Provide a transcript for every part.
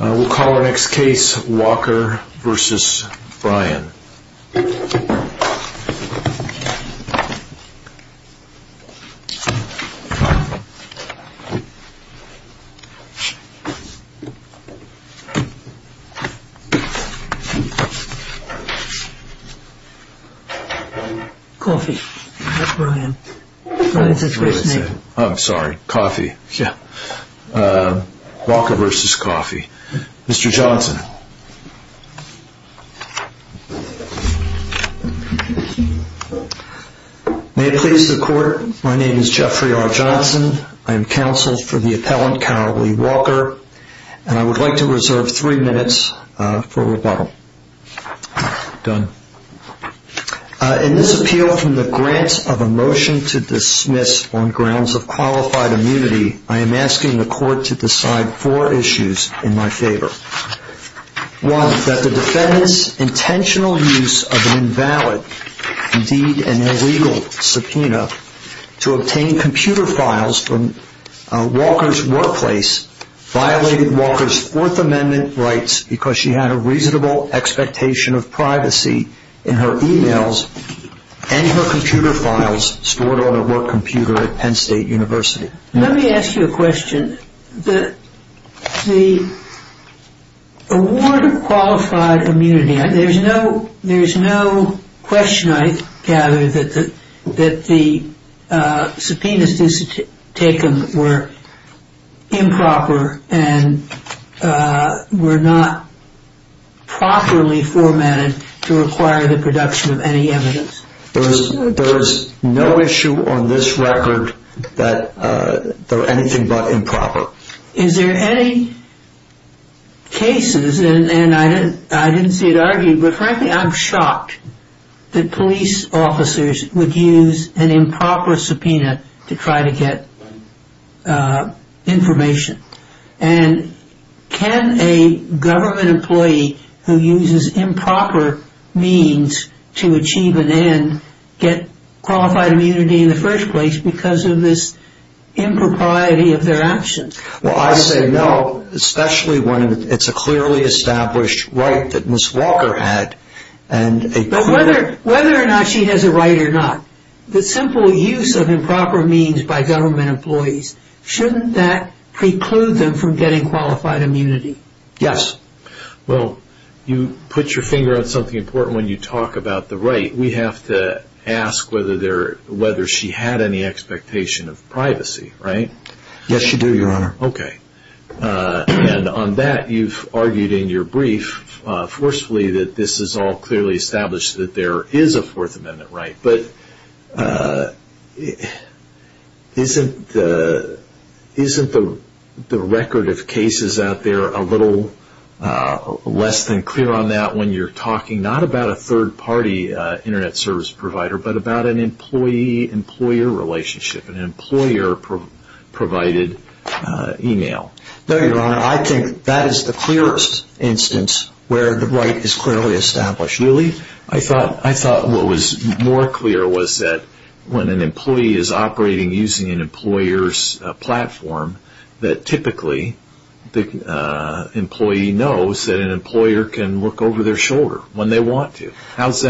We'll call our next case Walker v. Bryan. Coffey, not Bryan. I'm sorry, Coffey. Walker v. Coffey. Mr. Johnson. May it please the court, my name is Jeffrey R. Johnson. I am counsel for the appellant, Cowley Walker. And I would like to reserve three minutes for rebuttal. Done. In this appeal, from the grant of a motion to dismiss on grounds of qualified immunity, I am asking the court to decide four issues in my favor. One, that the defendant's intentional use of an invalid, indeed an illegal, subpoena to obtain computer files from Walker's workplace violated Walker's Fourth Amendment rights because she had a reasonable expectation of privacy in her e-mails and her computer files stored on her work computer at Penn State University. Let me ask you a question. The award of qualified immunity, there's no question, I gather, that the subpoenas taken were improper and were not properly formatted to require the production of any evidence. There is no issue on this record that they're anything but improper. Is there any cases, and I didn't see it argued, but frankly I'm shocked that police officers would use an improper subpoena to try to get information. And can a government employee who uses improper means to achieve an end get qualified immunity in the first place because of this impropriety of their actions? Well, I say no, especially when it's a clearly established right that Ms. Walker had. But whether or not she has a right or not, the simple use of improper means by government employees, shouldn't that preclude them from getting qualified immunity? Yes. Well, you put your finger on something important when you talk about the right. We have to ask whether she had any expectation of privacy, right? Yes, you do, Your Honor. Okay. And on that, you've argued in your brief, forcefully, that this is all clearly established that there is a Fourth Amendment right. But isn't the record of cases out there a little less than clear on that when you're talking not about a third-party Internet service provider, but about an employee-employer relationship, an employer-provided email? No, Your Honor. I think that is the clearest instance where the right is clearly established. Really? I thought what was more clear was that when an employee is operating using an employer's platform, that typically the employee knows that an employer can look over their shoulder when they want to. How does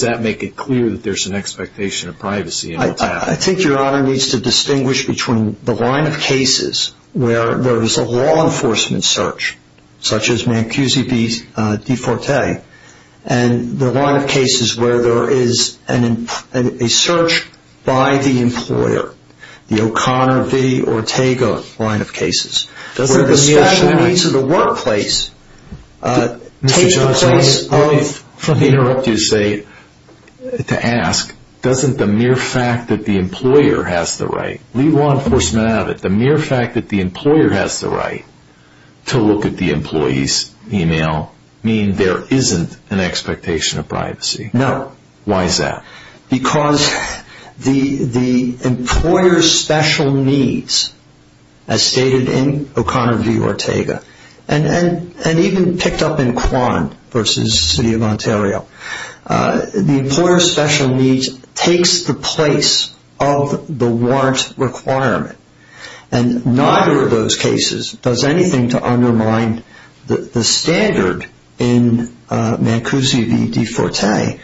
that make it clear that there's an expectation of privacy in what's happening? I think Your Honor needs to distinguish between the line of cases where there is a law enforcement search, such as Mancusi v. DeForte, and the line of cases where there is a search by the employer, the O'Connor v. Ortega line of cases, where the special needs of the workplace take the place of— Doesn't the mere fact that the employer has the right to look at the employee's email mean there isn't an expectation of privacy? No. Why is that? Because the employer's special needs, as stated in O'Connor v. Ortega, and even picked up in Quan v. City of Ontario, the employer's special needs takes the place of the warrant requirement, and neither of those cases does anything to undermine the standard in Mancusi v. DeForte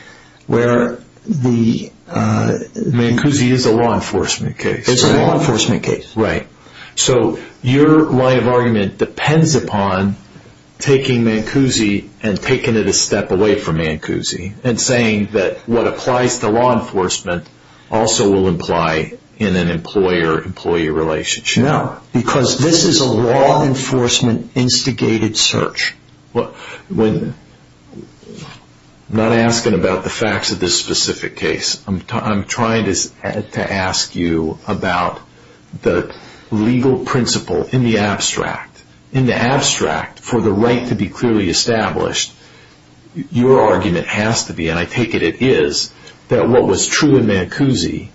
where the— Mancusi is a law enforcement case. It's a law enforcement case. Right. So your line of argument depends upon taking Mancusi and taking it a step away from Mancusi and saying that what applies to law enforcement also will imply in an employer-employee relationship. No. Because this is a law enforcement instigated search. I'm not asking about the facts of this specific case. I'm trying to ask you about the legal principle in the abstract. In the abstract, for the right to be clearly established, your argument has to be, and I take it it is, that what was true in Mancusi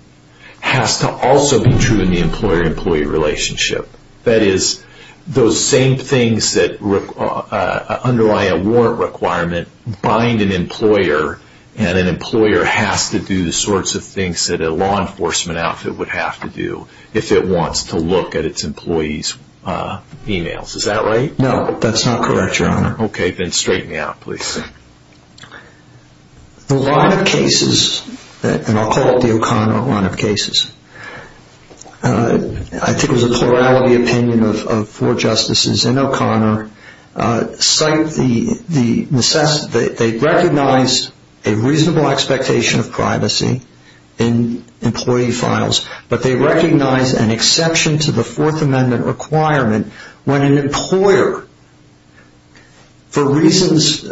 has to also be true in the employer-employee relationship. That is, those same things that underlie a warrant requirement bind an employer, and an employer has to do the sorts of things that a law enforcement outfit would have to do if it wants to look at its employees' emails. Is that right? No, that's not correct, Your Honor. Okay, then straighten me out, please. The line of cases, and I'll call it the O'Connor line of cases, I think it was a plurality opinion of four justices in O'Connor, cite the necessity, they recognize a reasonable expectation of privacy in employee files, but they recognize an exception to the Fourth Amendment requirement when an employer, for reasons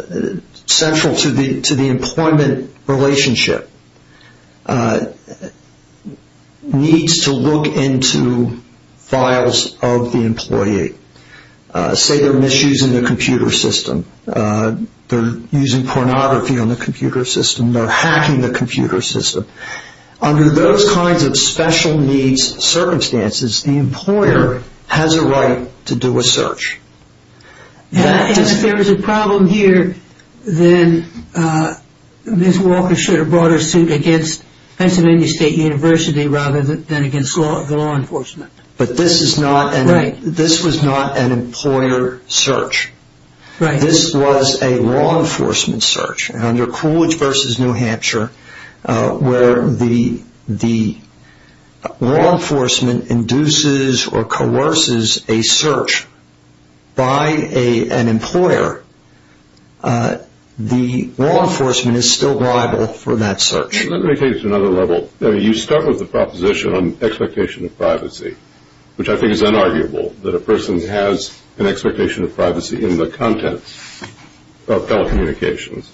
central to the employment relationship, needs to look into files of the employee. Say they're misusing the computer system, they're using pornography on the computer system, they're hacking the computer system. Under those kinds of special needs circumstances, the employer has a right to do a search. And if there is a problem here, then Ms. Walker should have brought her suit against Pennsylvania State University rather than against the law enforcement. But this was not an employer search. This was a law enforcement search. Under Coolidge v. New Hampshire, where the law enforcement induces or coerces a search by an employer, the law enforcement is still liable for that search. Let me take it to another level. You start with the proposition on expectation of privacy, which I think is unarguable that a person has an expectation of privacy in the contents of telecommunications,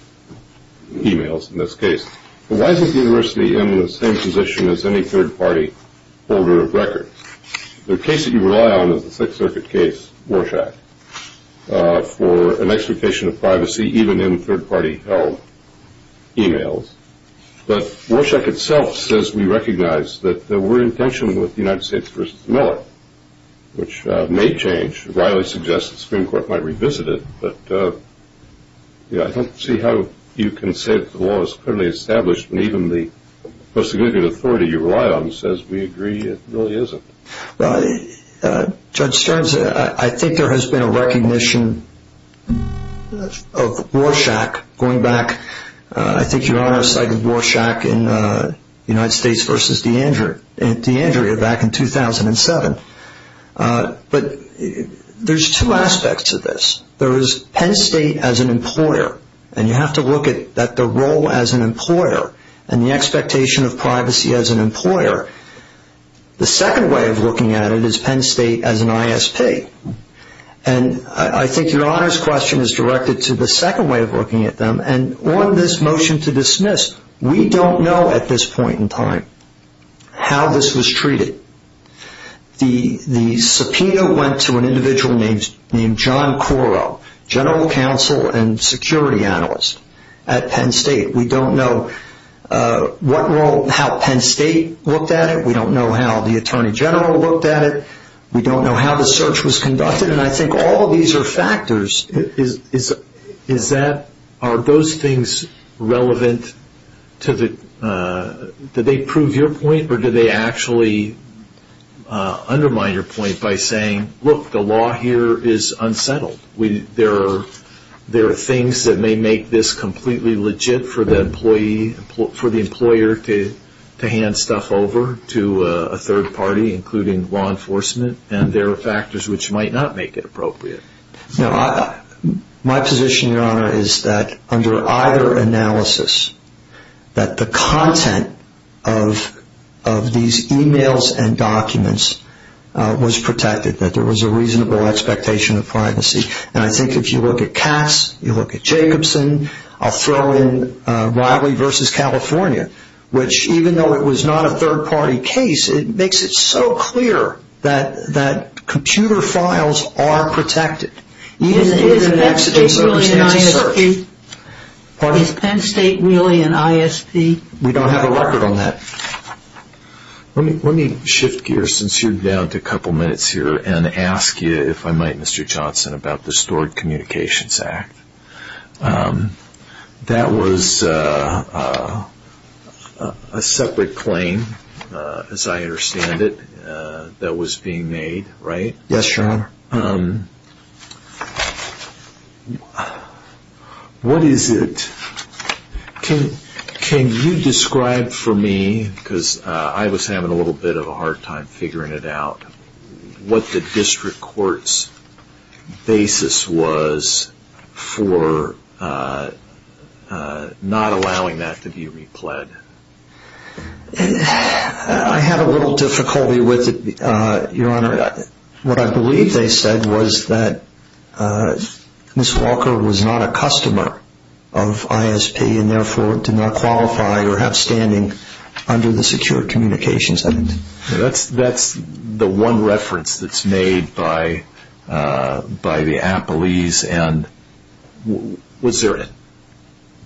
e-mails in this case. Why is the university in the same position as any third-party holder of records? The case that you rely on is the Sixth Circuit case, Warshak, for an expectation of privacy even in third-party held e-mails. But Warshak itself says we recognize that we're in tension with the United States v. Miller, which may change. Riley suggests the Supreme Court might revisit it. But I don't see how you can say that the law is clearly established when even the post significant authority you rely on says we agree it really isn't. Judge Stearns, I think there has been a recognition of Warshak going back, I think Your Honor cited Warshak in United States v. D'Andrea back in 2007. But there's two aspects of this. There is Penn State as an employer, and you have to look at the role as an employer and the expectation of privacy as an employer. The second way of looking at it is Penn State as an ISP. And I think Your Honor's question is directed to the second way of looking at them, and on this motion to dismiss, we don't know at this point in time how this was treated. The subpoena went to an individual named John Coro, general counsel and security analyst at Penn State. We don't know what role, how Penn State looked at it. We don't know how the attorney general looked at it. We don't know how the search was conducted. The question, and I think all of these are factors, is that are those things relevant to the – did they prove your point or did they actually undermine your point by saying, look, the law here is unsettled. There are things that may make this completely legit for the employee, for the employer to hand stuff over to a third party, including law enforcement, and there are factors which might not make it appropriate. My position, Your Honor, is that under either analysis, that the content of these emails and documents was protected, that there was a reasonable expectation of privacy. And I think if you look at Cass, you look at Jacobson, I'll throw in Riley v. California, which even though it was not a third party case, it makes it so clear that computer files are protected. Even in an accidental search. Is Penn State really an ISP? We don't have a record on that. Let me shift gears since you're down to a couple minutes here and ask you, if I might, Mr. Johnson, about the Stored Communications Act. That was a separate claim, as I understand it, that was being made, right? Yes, Your Honor. What is it, can you describe for me, because I was having a little bit of a hard time figuring it out, what the district court's basis was for not allowing that to be repled? I had a little difficulty with it, Your Honor. What I believe they said was that Ms. Walker was not a customer of ISP and therefore did not qualify or have standing under the secured communications act. That's the one reference that's made by the appellees.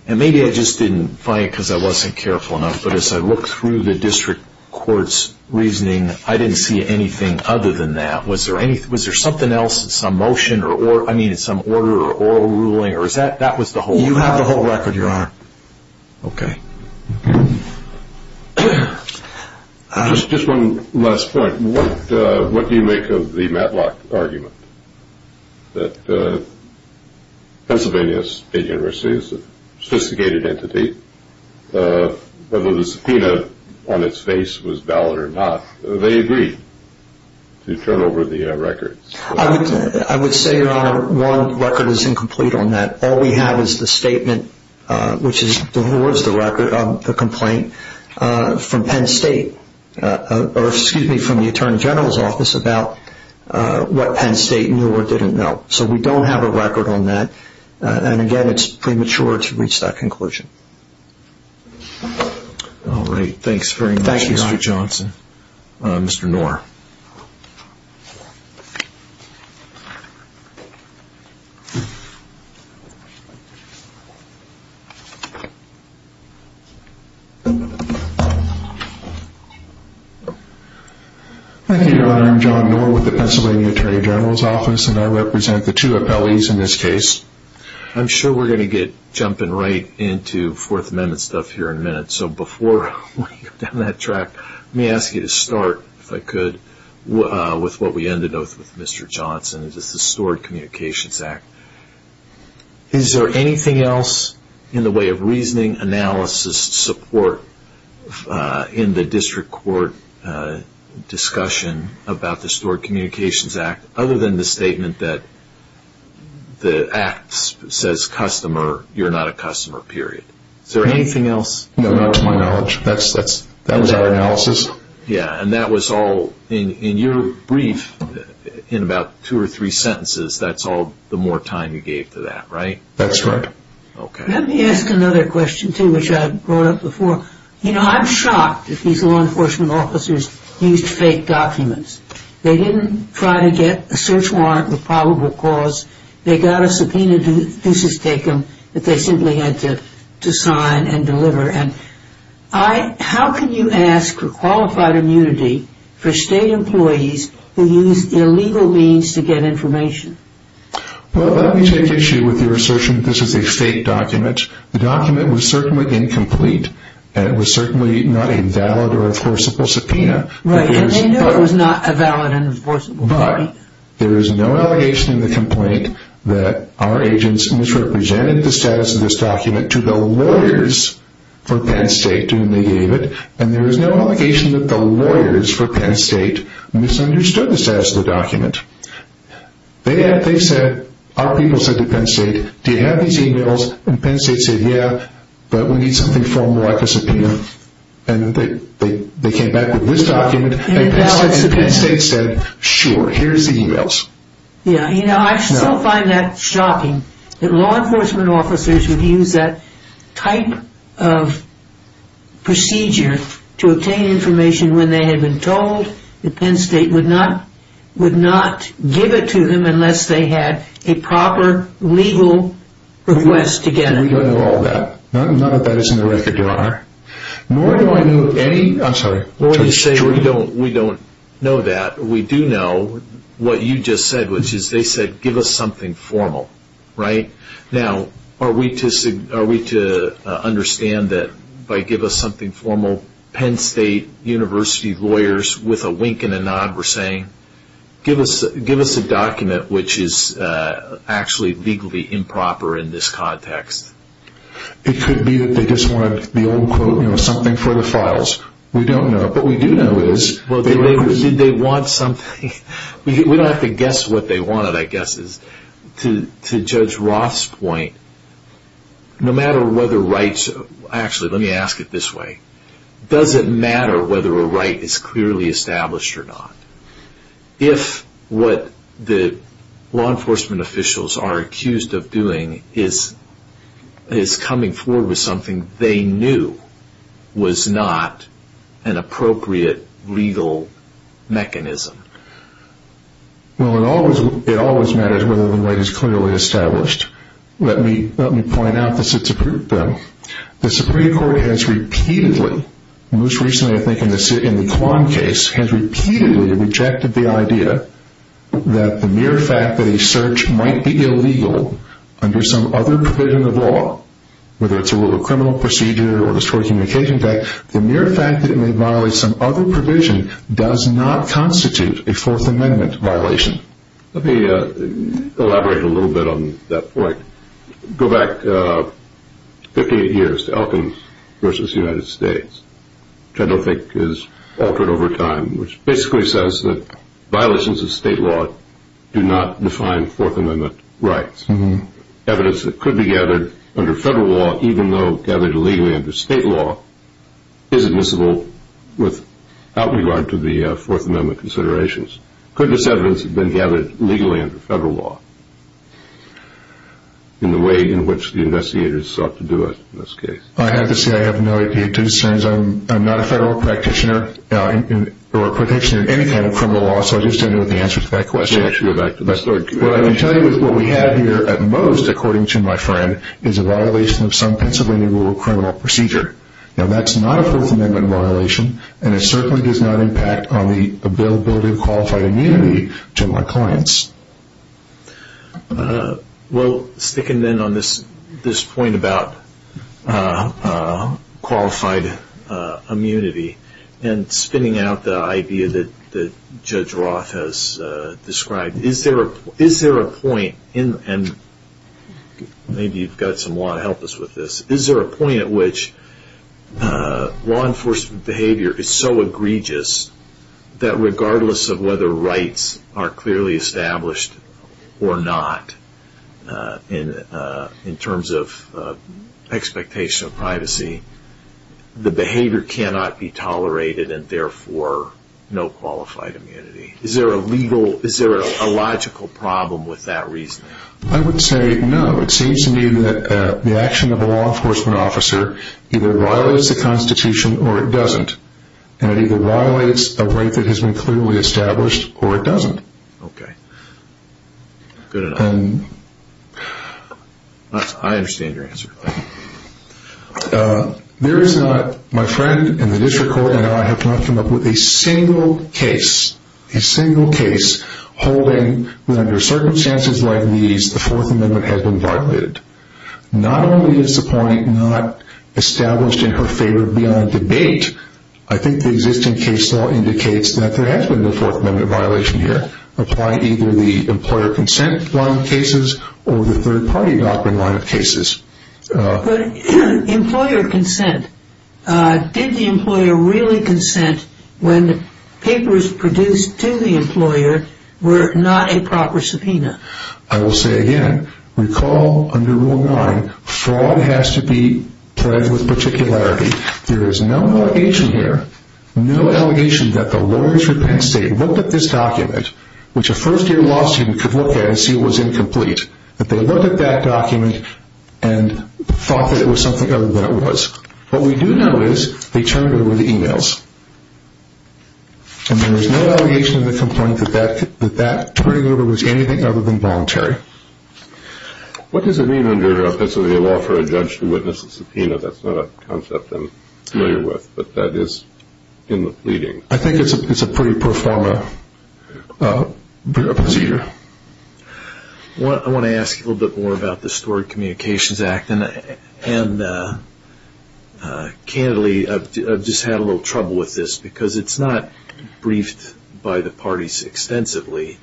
Maybe I just didn't find it because I wasn't careful enough, but as I looked through the district court's reasoning, I didn't see anything other than that. Was there something else, some motion, some order or ruling? You have the whole record, Your Honor. One last point, what do you make of the Matlock argument that Pennsylvania State University is a sophisticated entity, whether the subpoena on its face was valid or not? They agreed to turn over the records. I would say, Your Honor, one record is incomplete on that. All we have is the statement, which is the complaint from Penn State, or excuse me, from the Attorney General's office about what Penn State knew or didn't know. We don't have a record on that. Again, it's premature to reach that conclusion. All right. Thanks very much, Mr. Johnson. Thank you, Your Honor. Mr. Knorr. Thank you, Your Honor. I'm John Knorr with the Pennsylvania Attorney General's office, and I represent the two appellees in this case. I'm sure we're going to get jumping right into Fourth Amendment stuff here in a minute, so before we go down that track, let me ask you to start, if I could, with what we ended with, Mr. Johnson, is the Stored Communications Act. Is there anything else in the way of reasoning, analysis, support, in the district court discussion about the Stored Communications Act, other than the statement that the act says customer, you're not a customer, period? Is there anything else? That was our analysis. Yeah, and that was all, in your brief, in about two or three sentences, that's all the more time you gave to that, right? That's right. Okay. Let me ask another question, too, which I brought up before. You know, I'm shocked that these law enforcement officers used fake documents. They didn't try to get a search warrant with probable cause. They got a subpoenaed thesis taken that they simply had to sign and deliver. How can you ask for qualified immunity for state employees who use illegal means to get information? Well, let me take issue with your assertion that this is a fake document. The document was certainly incomplete, and it was certainly not a valid or enforceable subpoena. Right, and they knew it was not a valid and enforceable subpoena. But there is no allegation in the complaint that our agents misrepresented the status of this document to the lawyers for Penn State when they gave it, and there is no allegation that the lawyers for Penn State misunderstood the status of the document. They said, our people said to Penn State, do you have these e-mails? And Penn State said, yeah, but we need something formal like a subpoena. And they came back with this document, and Penn State said, sure, here's the e-mails. Yeah, you know, I still find that shocking that law enforcement officers would use that type of procedure to obtain information when they had been told that Penn State would not give it to them unless they had a proper legal request to get it. We don't know all that. None of that is in the record, Your Honor. Nor do I know any, I'm sorry. Well, when you say we don't know that, we do know what you just said, which is they said, give us something formal, right? Now, are we to understand that by give us something formal, Penn State University lawyers with a wink and a nod were saying, give us a document which is actually legally improper in this context? It could be that they just wanted the old quote, you know, something for the files. We don't know. What we do know is they were able to... Well, did they want something? We don't have to guess what they wanted. I guess to Judge Roth's point, no matter whether rights... Actually, let me ask it this way. Does it matter whether a right is clearly established or not? If what the law enforcement officials are accused of doing is coming forward with something they knew was not an appropriate legal mechanism. Well, it always matters whether the right is clearly established. Let me point out the Supreme Court has repeatedly, most recently I think in the Kwan case, has repeatedly rejected the idea that the mere fact that a search might be illegal under some other provision of law, whether it's a rule of criminal procedure or the Historic Communications Act, the mere fact that it may violate some other provision does not constitute a Fourth Amendment violation. Let me elaborate a little bit on that point. Go back 58 years to Elkins v. United States, which I don't think is altered over time, which basically says that violations of state law do not define Fourth Amendment rights. Evidence that could be gathered under federal law, even though gathered illegally under state law, is admissible without regard to the Fourth Amendment considerations. Could this evidence have been gathered illegally under federal law in the way in which the investigators sought to do it in this case? I have to say I have no idea, too, since I'm not a federal practitioner or a practitioner in any kind of criminal law, so I just don't know the answer to that question. What I can tell you is what we have here at most, according to my friend, is a violation of some Pennsylvania rule of criminal procedure. That's not a Fourth Amendment violation, and it certainly does not impact on the availability of qualified immunity to my clients. Well, sticking then on this point about qualified immunity and spinning out the idea that Judge Roth has described, is there a point, and maybe you've got some law to help us with this, is there a point at which law enforcement behavior is so egregious that regardless of whether rights are clearly established or not in terms of expectation of privacy, the behavior cannot be tolerated and therefore no qualified immunity? Is there a logical problem with that reasoning? I would say no. It seems to me that the action of a law enforcement officer either violates the Constitution or it doesn't, and it either violates a right that has been clearly established or it doesn't. Okay. Good enough. I understand your answer. My friend in the district court and I have come up with a single case, a single case holding that under circumstances like these, the Fourth Amendment has been violated. Not only is the point not established in her favor beyond debate, I think the existing case law indicates that there has been no Fourth Amendment violation here. Apply either the employer consent line of cases or the third-party doctrine line of cases. But employer consent, did the employer really consent when papers produced to the employer were not a proper subpoena? I will say again, recall under Rule 9, fraud has to be pledged with particularity. There is no allegation here, no allegation that the lawyers for Penn State looked at this document, which a first-year law student could look at and see it was incomplete, that they looked at that document and thought that it was something other than it was. What we do know is they turned over the emails. And there is no allegation in the complaint that that turning over was anything other than voluntary. What does it mean under Pennsylvania law for a judge to witness a subpoena? I know that's not a concept I'm familiar with, but that is in the pleading. I think it's a pretty pro forma procedure. I want to ask a little bit more about the Stored Communications Act. And candidly, I've just had a little trouble with this because it's not briefed by the parties extensively.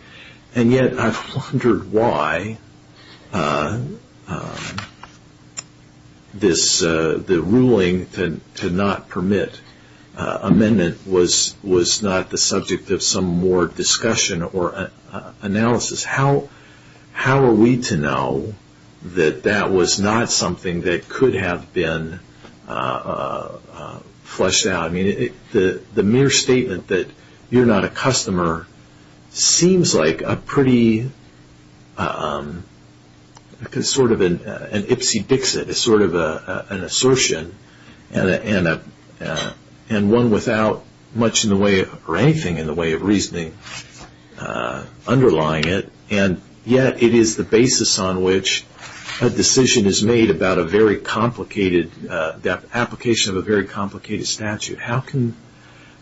And yet, I've wondered why the ruling to not permit amendment was not the subject of some more discussion or analysis. How are we to know that that was not something that could have been fleshed out? I mean, the mere statement that you're not a customer seems like a pretty, sort of an ipsy-dixit, sort of an assertion. And one without much in the way, or anything in the way of reasoning underlying it. And yet, it is the basis on which a decision is made about a very complicated, the application of a very complicated statute. How can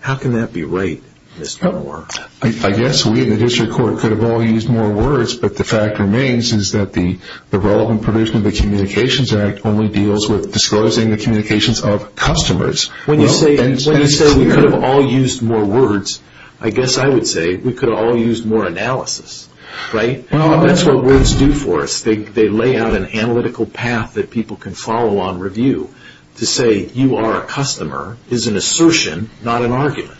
that be right, Mr. Moore? I guess we in the district court could have all used more words, but the fact remains is that the relevant provision of the Communications Act only deals with disclosing the communications of customers. When you say we could have all used more words, I guess I would say we could have all used more analysis, right? That's what words do for us. They lay out an analytical path that people can follow on review. To say you are a customer is an assertion, not an argument.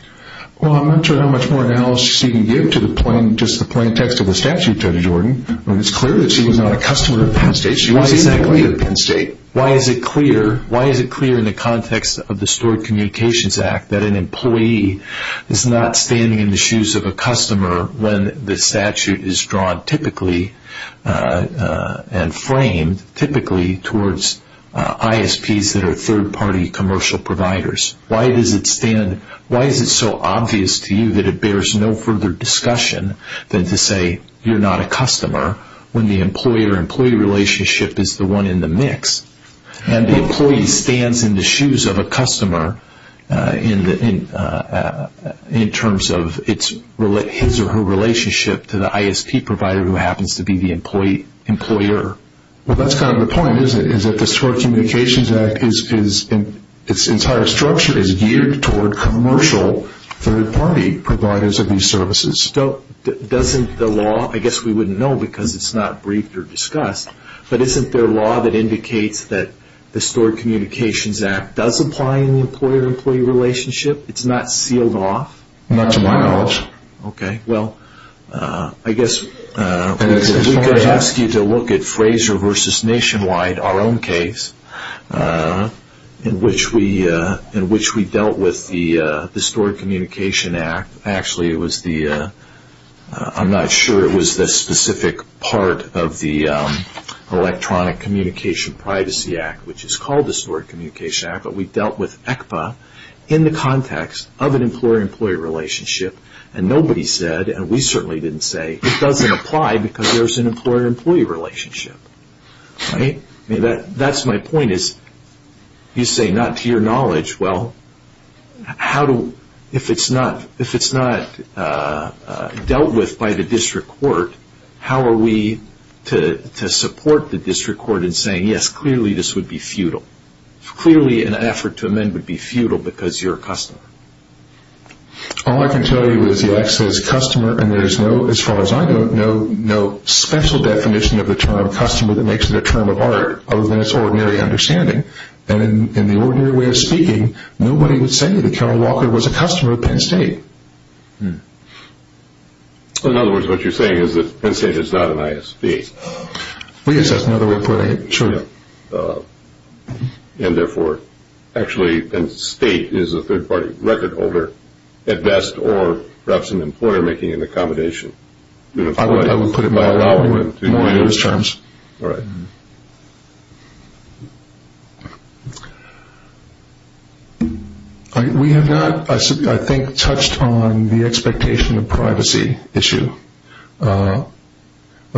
Well, I'm not sure how much more analysis you can give to the plain text of the statute, Judge Jordan, when it's clear that she was not a customer of Penn State. She wasn't an employee of Penn State. Why is it clear in the context of the Stored Communications Act that an employee is not standing in the shoes of a customer when the statute is drawn typically and framed typically towards ISPs that are third-party commercial providers? Why is it so obvious to you that it bears no further discussion than to say you're not a customer when the employee-employee relationship is the one in the mix and the employee stands in the shoes of a customer in terms of his or her relationship to the ISP provider who happens to be the employer? Well, that's kind of the point, isn't it, is that the Stored Communications Act, its entire structure, is geared toward commercial third-party providers of these services. Doesn't the law, I guess we wouldn't know because it's not briefed or discussed, but isn't there law that indicates that the Stored Communications Act does apply in the employer-employee relationship? It's not sealed off? Not to my knowledge. Okay. Well, I guess we could ask you to look at Fraser v. Nationwide, our own case, in which we dealt with the Stored Communications Act. Actually, it was the, I'm not sure it was the specific part of the Electronic Communication Privacy Act, which is called the Stored Communications Act, but we dealt with ECPA in the context of an employer-employee relationship and nobody said, and we certainly didn't say, it doesn't apply because there's an employer-employee relationship. That's my point is you say not to your knowledge. Well, if it's not dealt with by the district court, how are we to support the district court in saying, yes, clearly this would be futile. Clearly an effort to amend would be futile because you're a customer. All I can tell you is the act says customer and there's no, as far as I know, no special definition of the term customer that makes it a term of art other than its ordinary understanding. And in the ordinary way of speaking, nobody would say that Karen Walker was a customer of Penn State. In other words, what you're saying is that Penn State is not an ISP. Yes, that's another way of putting it. And therefore, actually Penn State is a third-party record holder at best or perhaps an employer making an accommodation. I would put it more in those terms. All right. We have not, I think, touched on the expectation of privacy issue. Of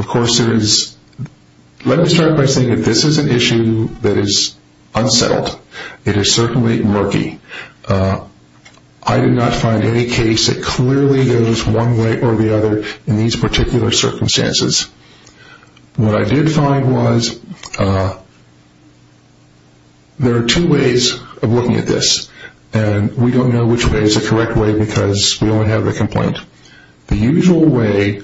course, let me start by saying that this is an issue that is unsettled. It is certainly murky. I did not find any case that clearly goes one way or the other in these particular circumstances. What I did find was there are two ways of looking at this, and we don't know which way is the correct way because we only have the complaint. The usual way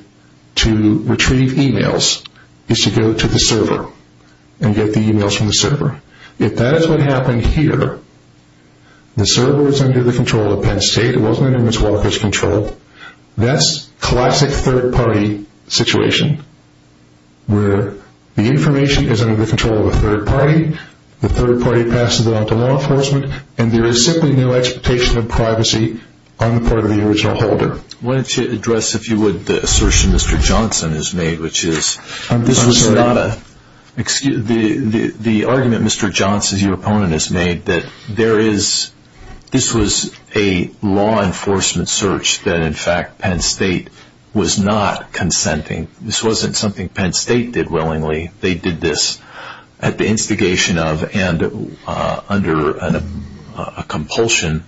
to retrieve e-mails is to go to the server and get the e-mails from the server. If that is what happened here, the server is under the control of Penn State. It wasn't under Ms. Walker's control. That's classic third-party situation where the information is under the control of a third-party, the third-party passes it on to law enforcement, and there is simply no expectation of privacy on the part of the original holder. I wanted to address, if you would, the assertion Mr. Johnson has made, which is the argument Mr. Johnson, your opponent, has made, that this was a law enforcement search that, in fact, Penn State was not consenting. This wasn't something Penn State did willingly. They did this at the instigation of and under a compulsion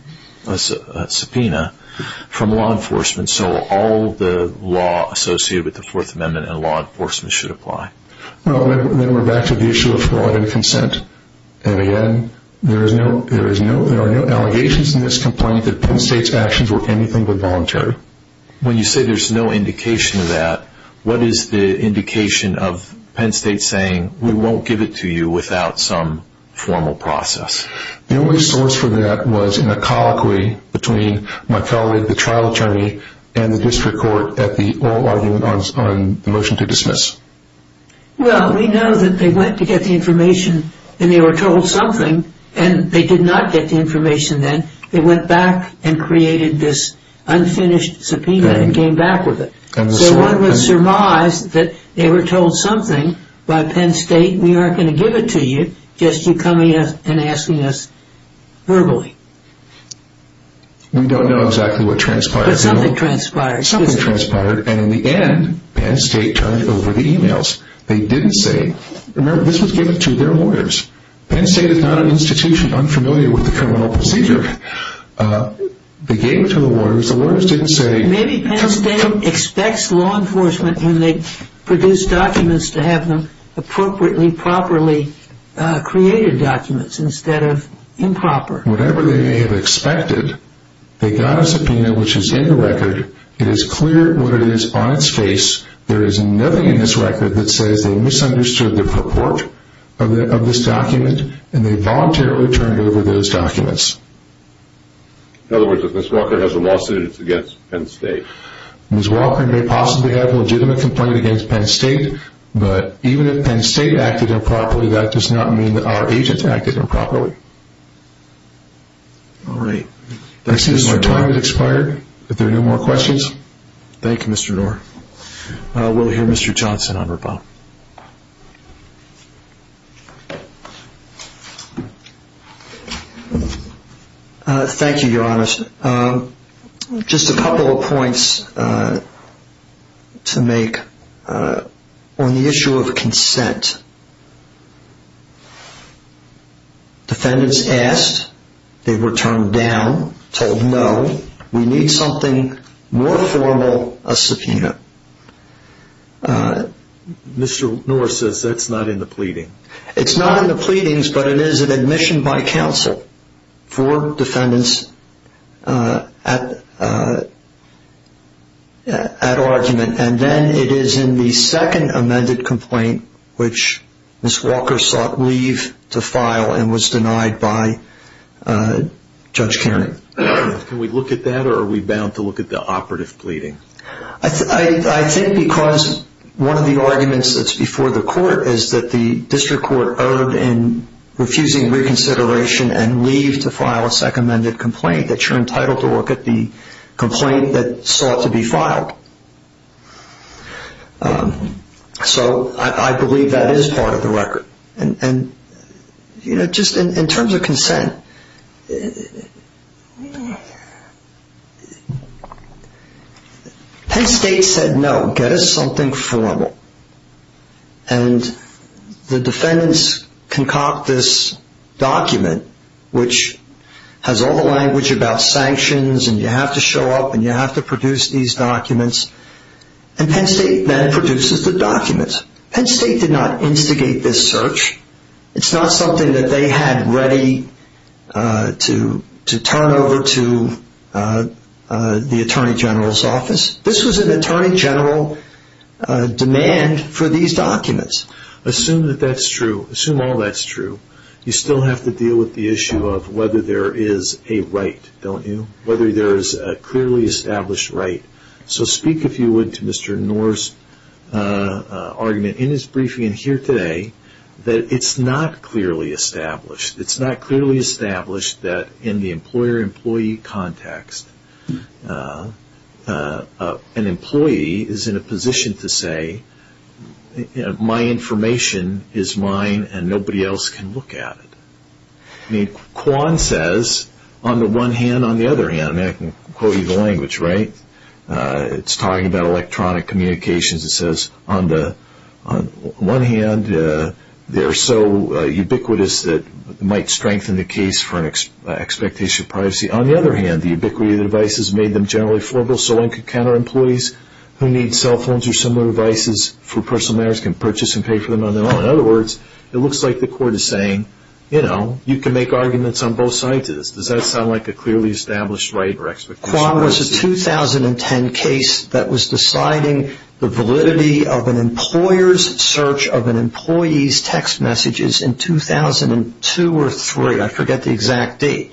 subpoena from law enforcement, so all the law associated with the Fourth Amendment and law enforcement should apply. Then we're back to the issue of fraud and consent. Again, there are no allegations in this complaint that Penn State's actions were anything but voluntary. When you say there's no indication of that, what is the indication of Penn State saying, we won't give it to you without some formal process? The only source for that was in a colloquy between my colleague, the trial attorney, and the district court at the oral argument on the motion to dismiss. Well, we know that they went to get the information and they were told something and they did not get the information then. They went back and created this unfinished subpoena and came back with it. So one would surmise that they were told something by Penn State, we aren't going to give it to you, just you coming and asking us verbally. We don't know exactly what transpired. But something transpired. And in the end, Penn State turned over the e-mails. They didn't say, remember this was given to their lawyers. Penn State is not an institution unfamiliar with the criminal procedure. They gave it to the lawyers. The lawyers didn't say. Maybe Penn State expects law enforcement when they produce documents to have them appropriately, properly created documents instead of improper. Whatever they may have expected, they got a subpoena which is in the record. It is clear what it is on its face. There is nothing in this record that says they misunderstood the purport of this document and they voluntarily turned over those documents. In other words, if Ms. Walker has a lawsuit, it's against Penn State. Ms. Walker may possibly have a legitimate complaint against Penn State, but even if Penn State acted improperly, that does not mean that our agents acted improperly. All right. It seems our time has expired. If there are no more questions. Thank you, Mr. Doar. We'll hear Mr. Johnson on rebuttal. Thank you, Your Honor. Just a couple of points to make on the issue of consent. Defendants asked. They were turned down, told no. We need something more formal, a subpoena. Mr. Noor says that's not in the pleading. It's not in the pleadings, but it is an admission by counsel for defendants at argument. And then it is in the second amended complaint, which Ms. Walker sought leave to file and was denied by Judge Caron. Can we look at that, or are we bound to look at the operative pleading? I think because one of the arguments that's before the court is that the district court owed in refusing reconsideration and leave to file a second amended complaint, that you're entitled to look at the complaint that sought to be filed. So I believe that is part of the record. And just in terms of consent, Penn State said no, get us something formal. And the defendants concoct this document, which has all the language about sanctions and you have to show up and you have to produce these documents. And Penn State then produces the document. Penn State did not instigate this search. It's not something that they had ready to turn over to the Attorney General's office. This was an Attorney General demand for these documents. Assume that that's true. Assume all that's true. You still have to deal with the issue of whether there is a right, don't you? Whether there is a clearly established right. So speak, if you would, to Mr. Knorr's argument in his briefing here today that it's not clearly established. It's not clearly established that in the employer-employee context, an employee is in a position to say, my information is mine and nobody else can look at it. Quan says, on the one hand, on the other hand, and I can quote you the language, right? It's talking about electronic communications. It says, on the one hand, they're so ubiquitous that it might strengthen the case for an expectation of privacy. On the other hand, the ubiquity of the devices made them generally affordable so one could counter employees who need cell phones or similar devices for personal matters, can purchase and pay for them on their own. In other words, it looks like the court is saying, you know, you can make arguments on both sides of this. Does that sound like a clearly established right or expectation of privacy? Quan was a 2010 case that was deciding the validity of an employer's search of an employee's text messages in 2002 or 2003. I forget the exact date.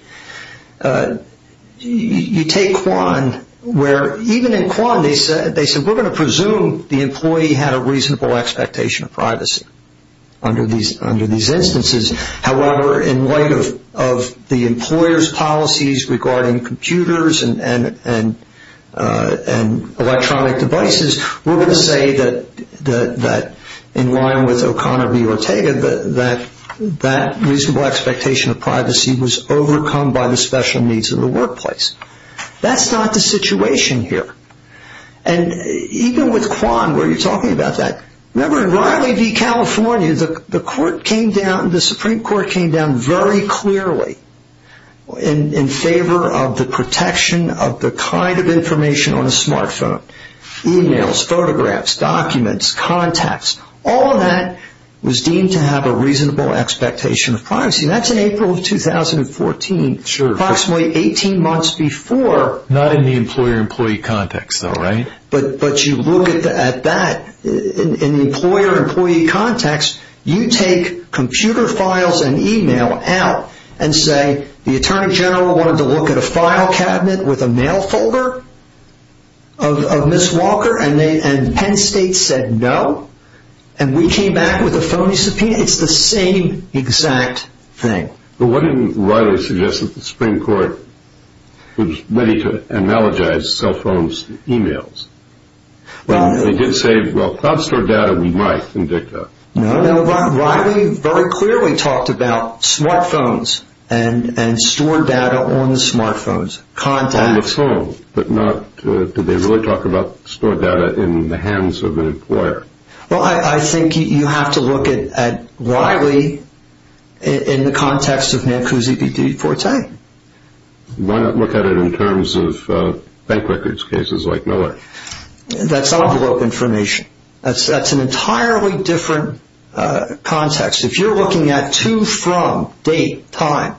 You take Quan where even in Quan they said, we're going to presume the employee had a reasonable expectation of privacy under these instances. However, in light of the employer's policies regarding computers and electronic devices, we're going to say that in line with O'Connor v. Ortega, that that reasonable expectation of privacy was overcome by the special needs of the workplace. That's not the situation here. And even with Quan where you're talking about that, remember in Riley v. California, the Supreme Court came down very clearly in favor of the protection of the kind of information on a smart phone. E-mails, photographs, documents, contacts, all of that was deemed to have a reasonable expectation of privacy. That's in April of 2014, approximately 18 months before. Not in the employer-employee context though, right? But you look at that in the employer-employee context, you take computer files and e-mail out and say, the Attorney General wanted to look at a file cabinet with a mail folder of Ms. Walker, and Penn State said no, and we came back with a phony subpoena. It's the same exact thing. Well, why didn't Riley suggest that the Supreme Court was ready to analogize cell phones to e-mails? They did say, well, cloud store data we might, in DICTA. No, Riley very clearly talked about smart phones and stored data on the smart phones, contacts. On the phone, but not, did they really talk about stored data in the hands of an employer? Well, I think you have to look at Riley in the context of Nancuzi v. DeForte. Why not look at it in terms of bank records cases like Miller? That's envelope information. That's an entirely different context. If you're looking at to, from, date, time,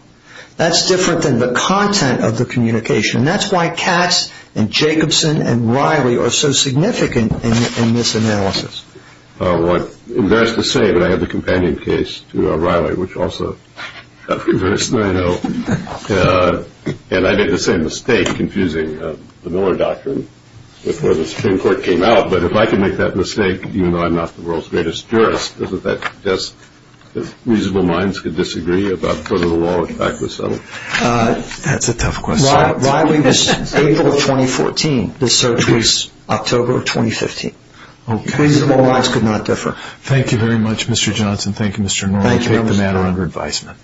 that's different than the content of the communication. That's why Katz and Jacobson and Riley are so significant in this analysis. What's embarrassing to say, but I have the companion case to Riley, which also got reversed, and I know, and I made the same mistake confusing the Miller doctrine before the Supreme Court came out, but if I can make that mistake, even though I'm not the world's greatest jurist, doesn't that suggest reasonable minds could disagree about whether the law in fact was settled? That's a tough question. Riley was April of 2014. The search was October of 2015. Okay. Reasonable minds could not differ. Thank you very much, Mr. Johnson. Thank you, Mr. Norrell. Thank you, Mr. Johnson. Take the matter under advisement.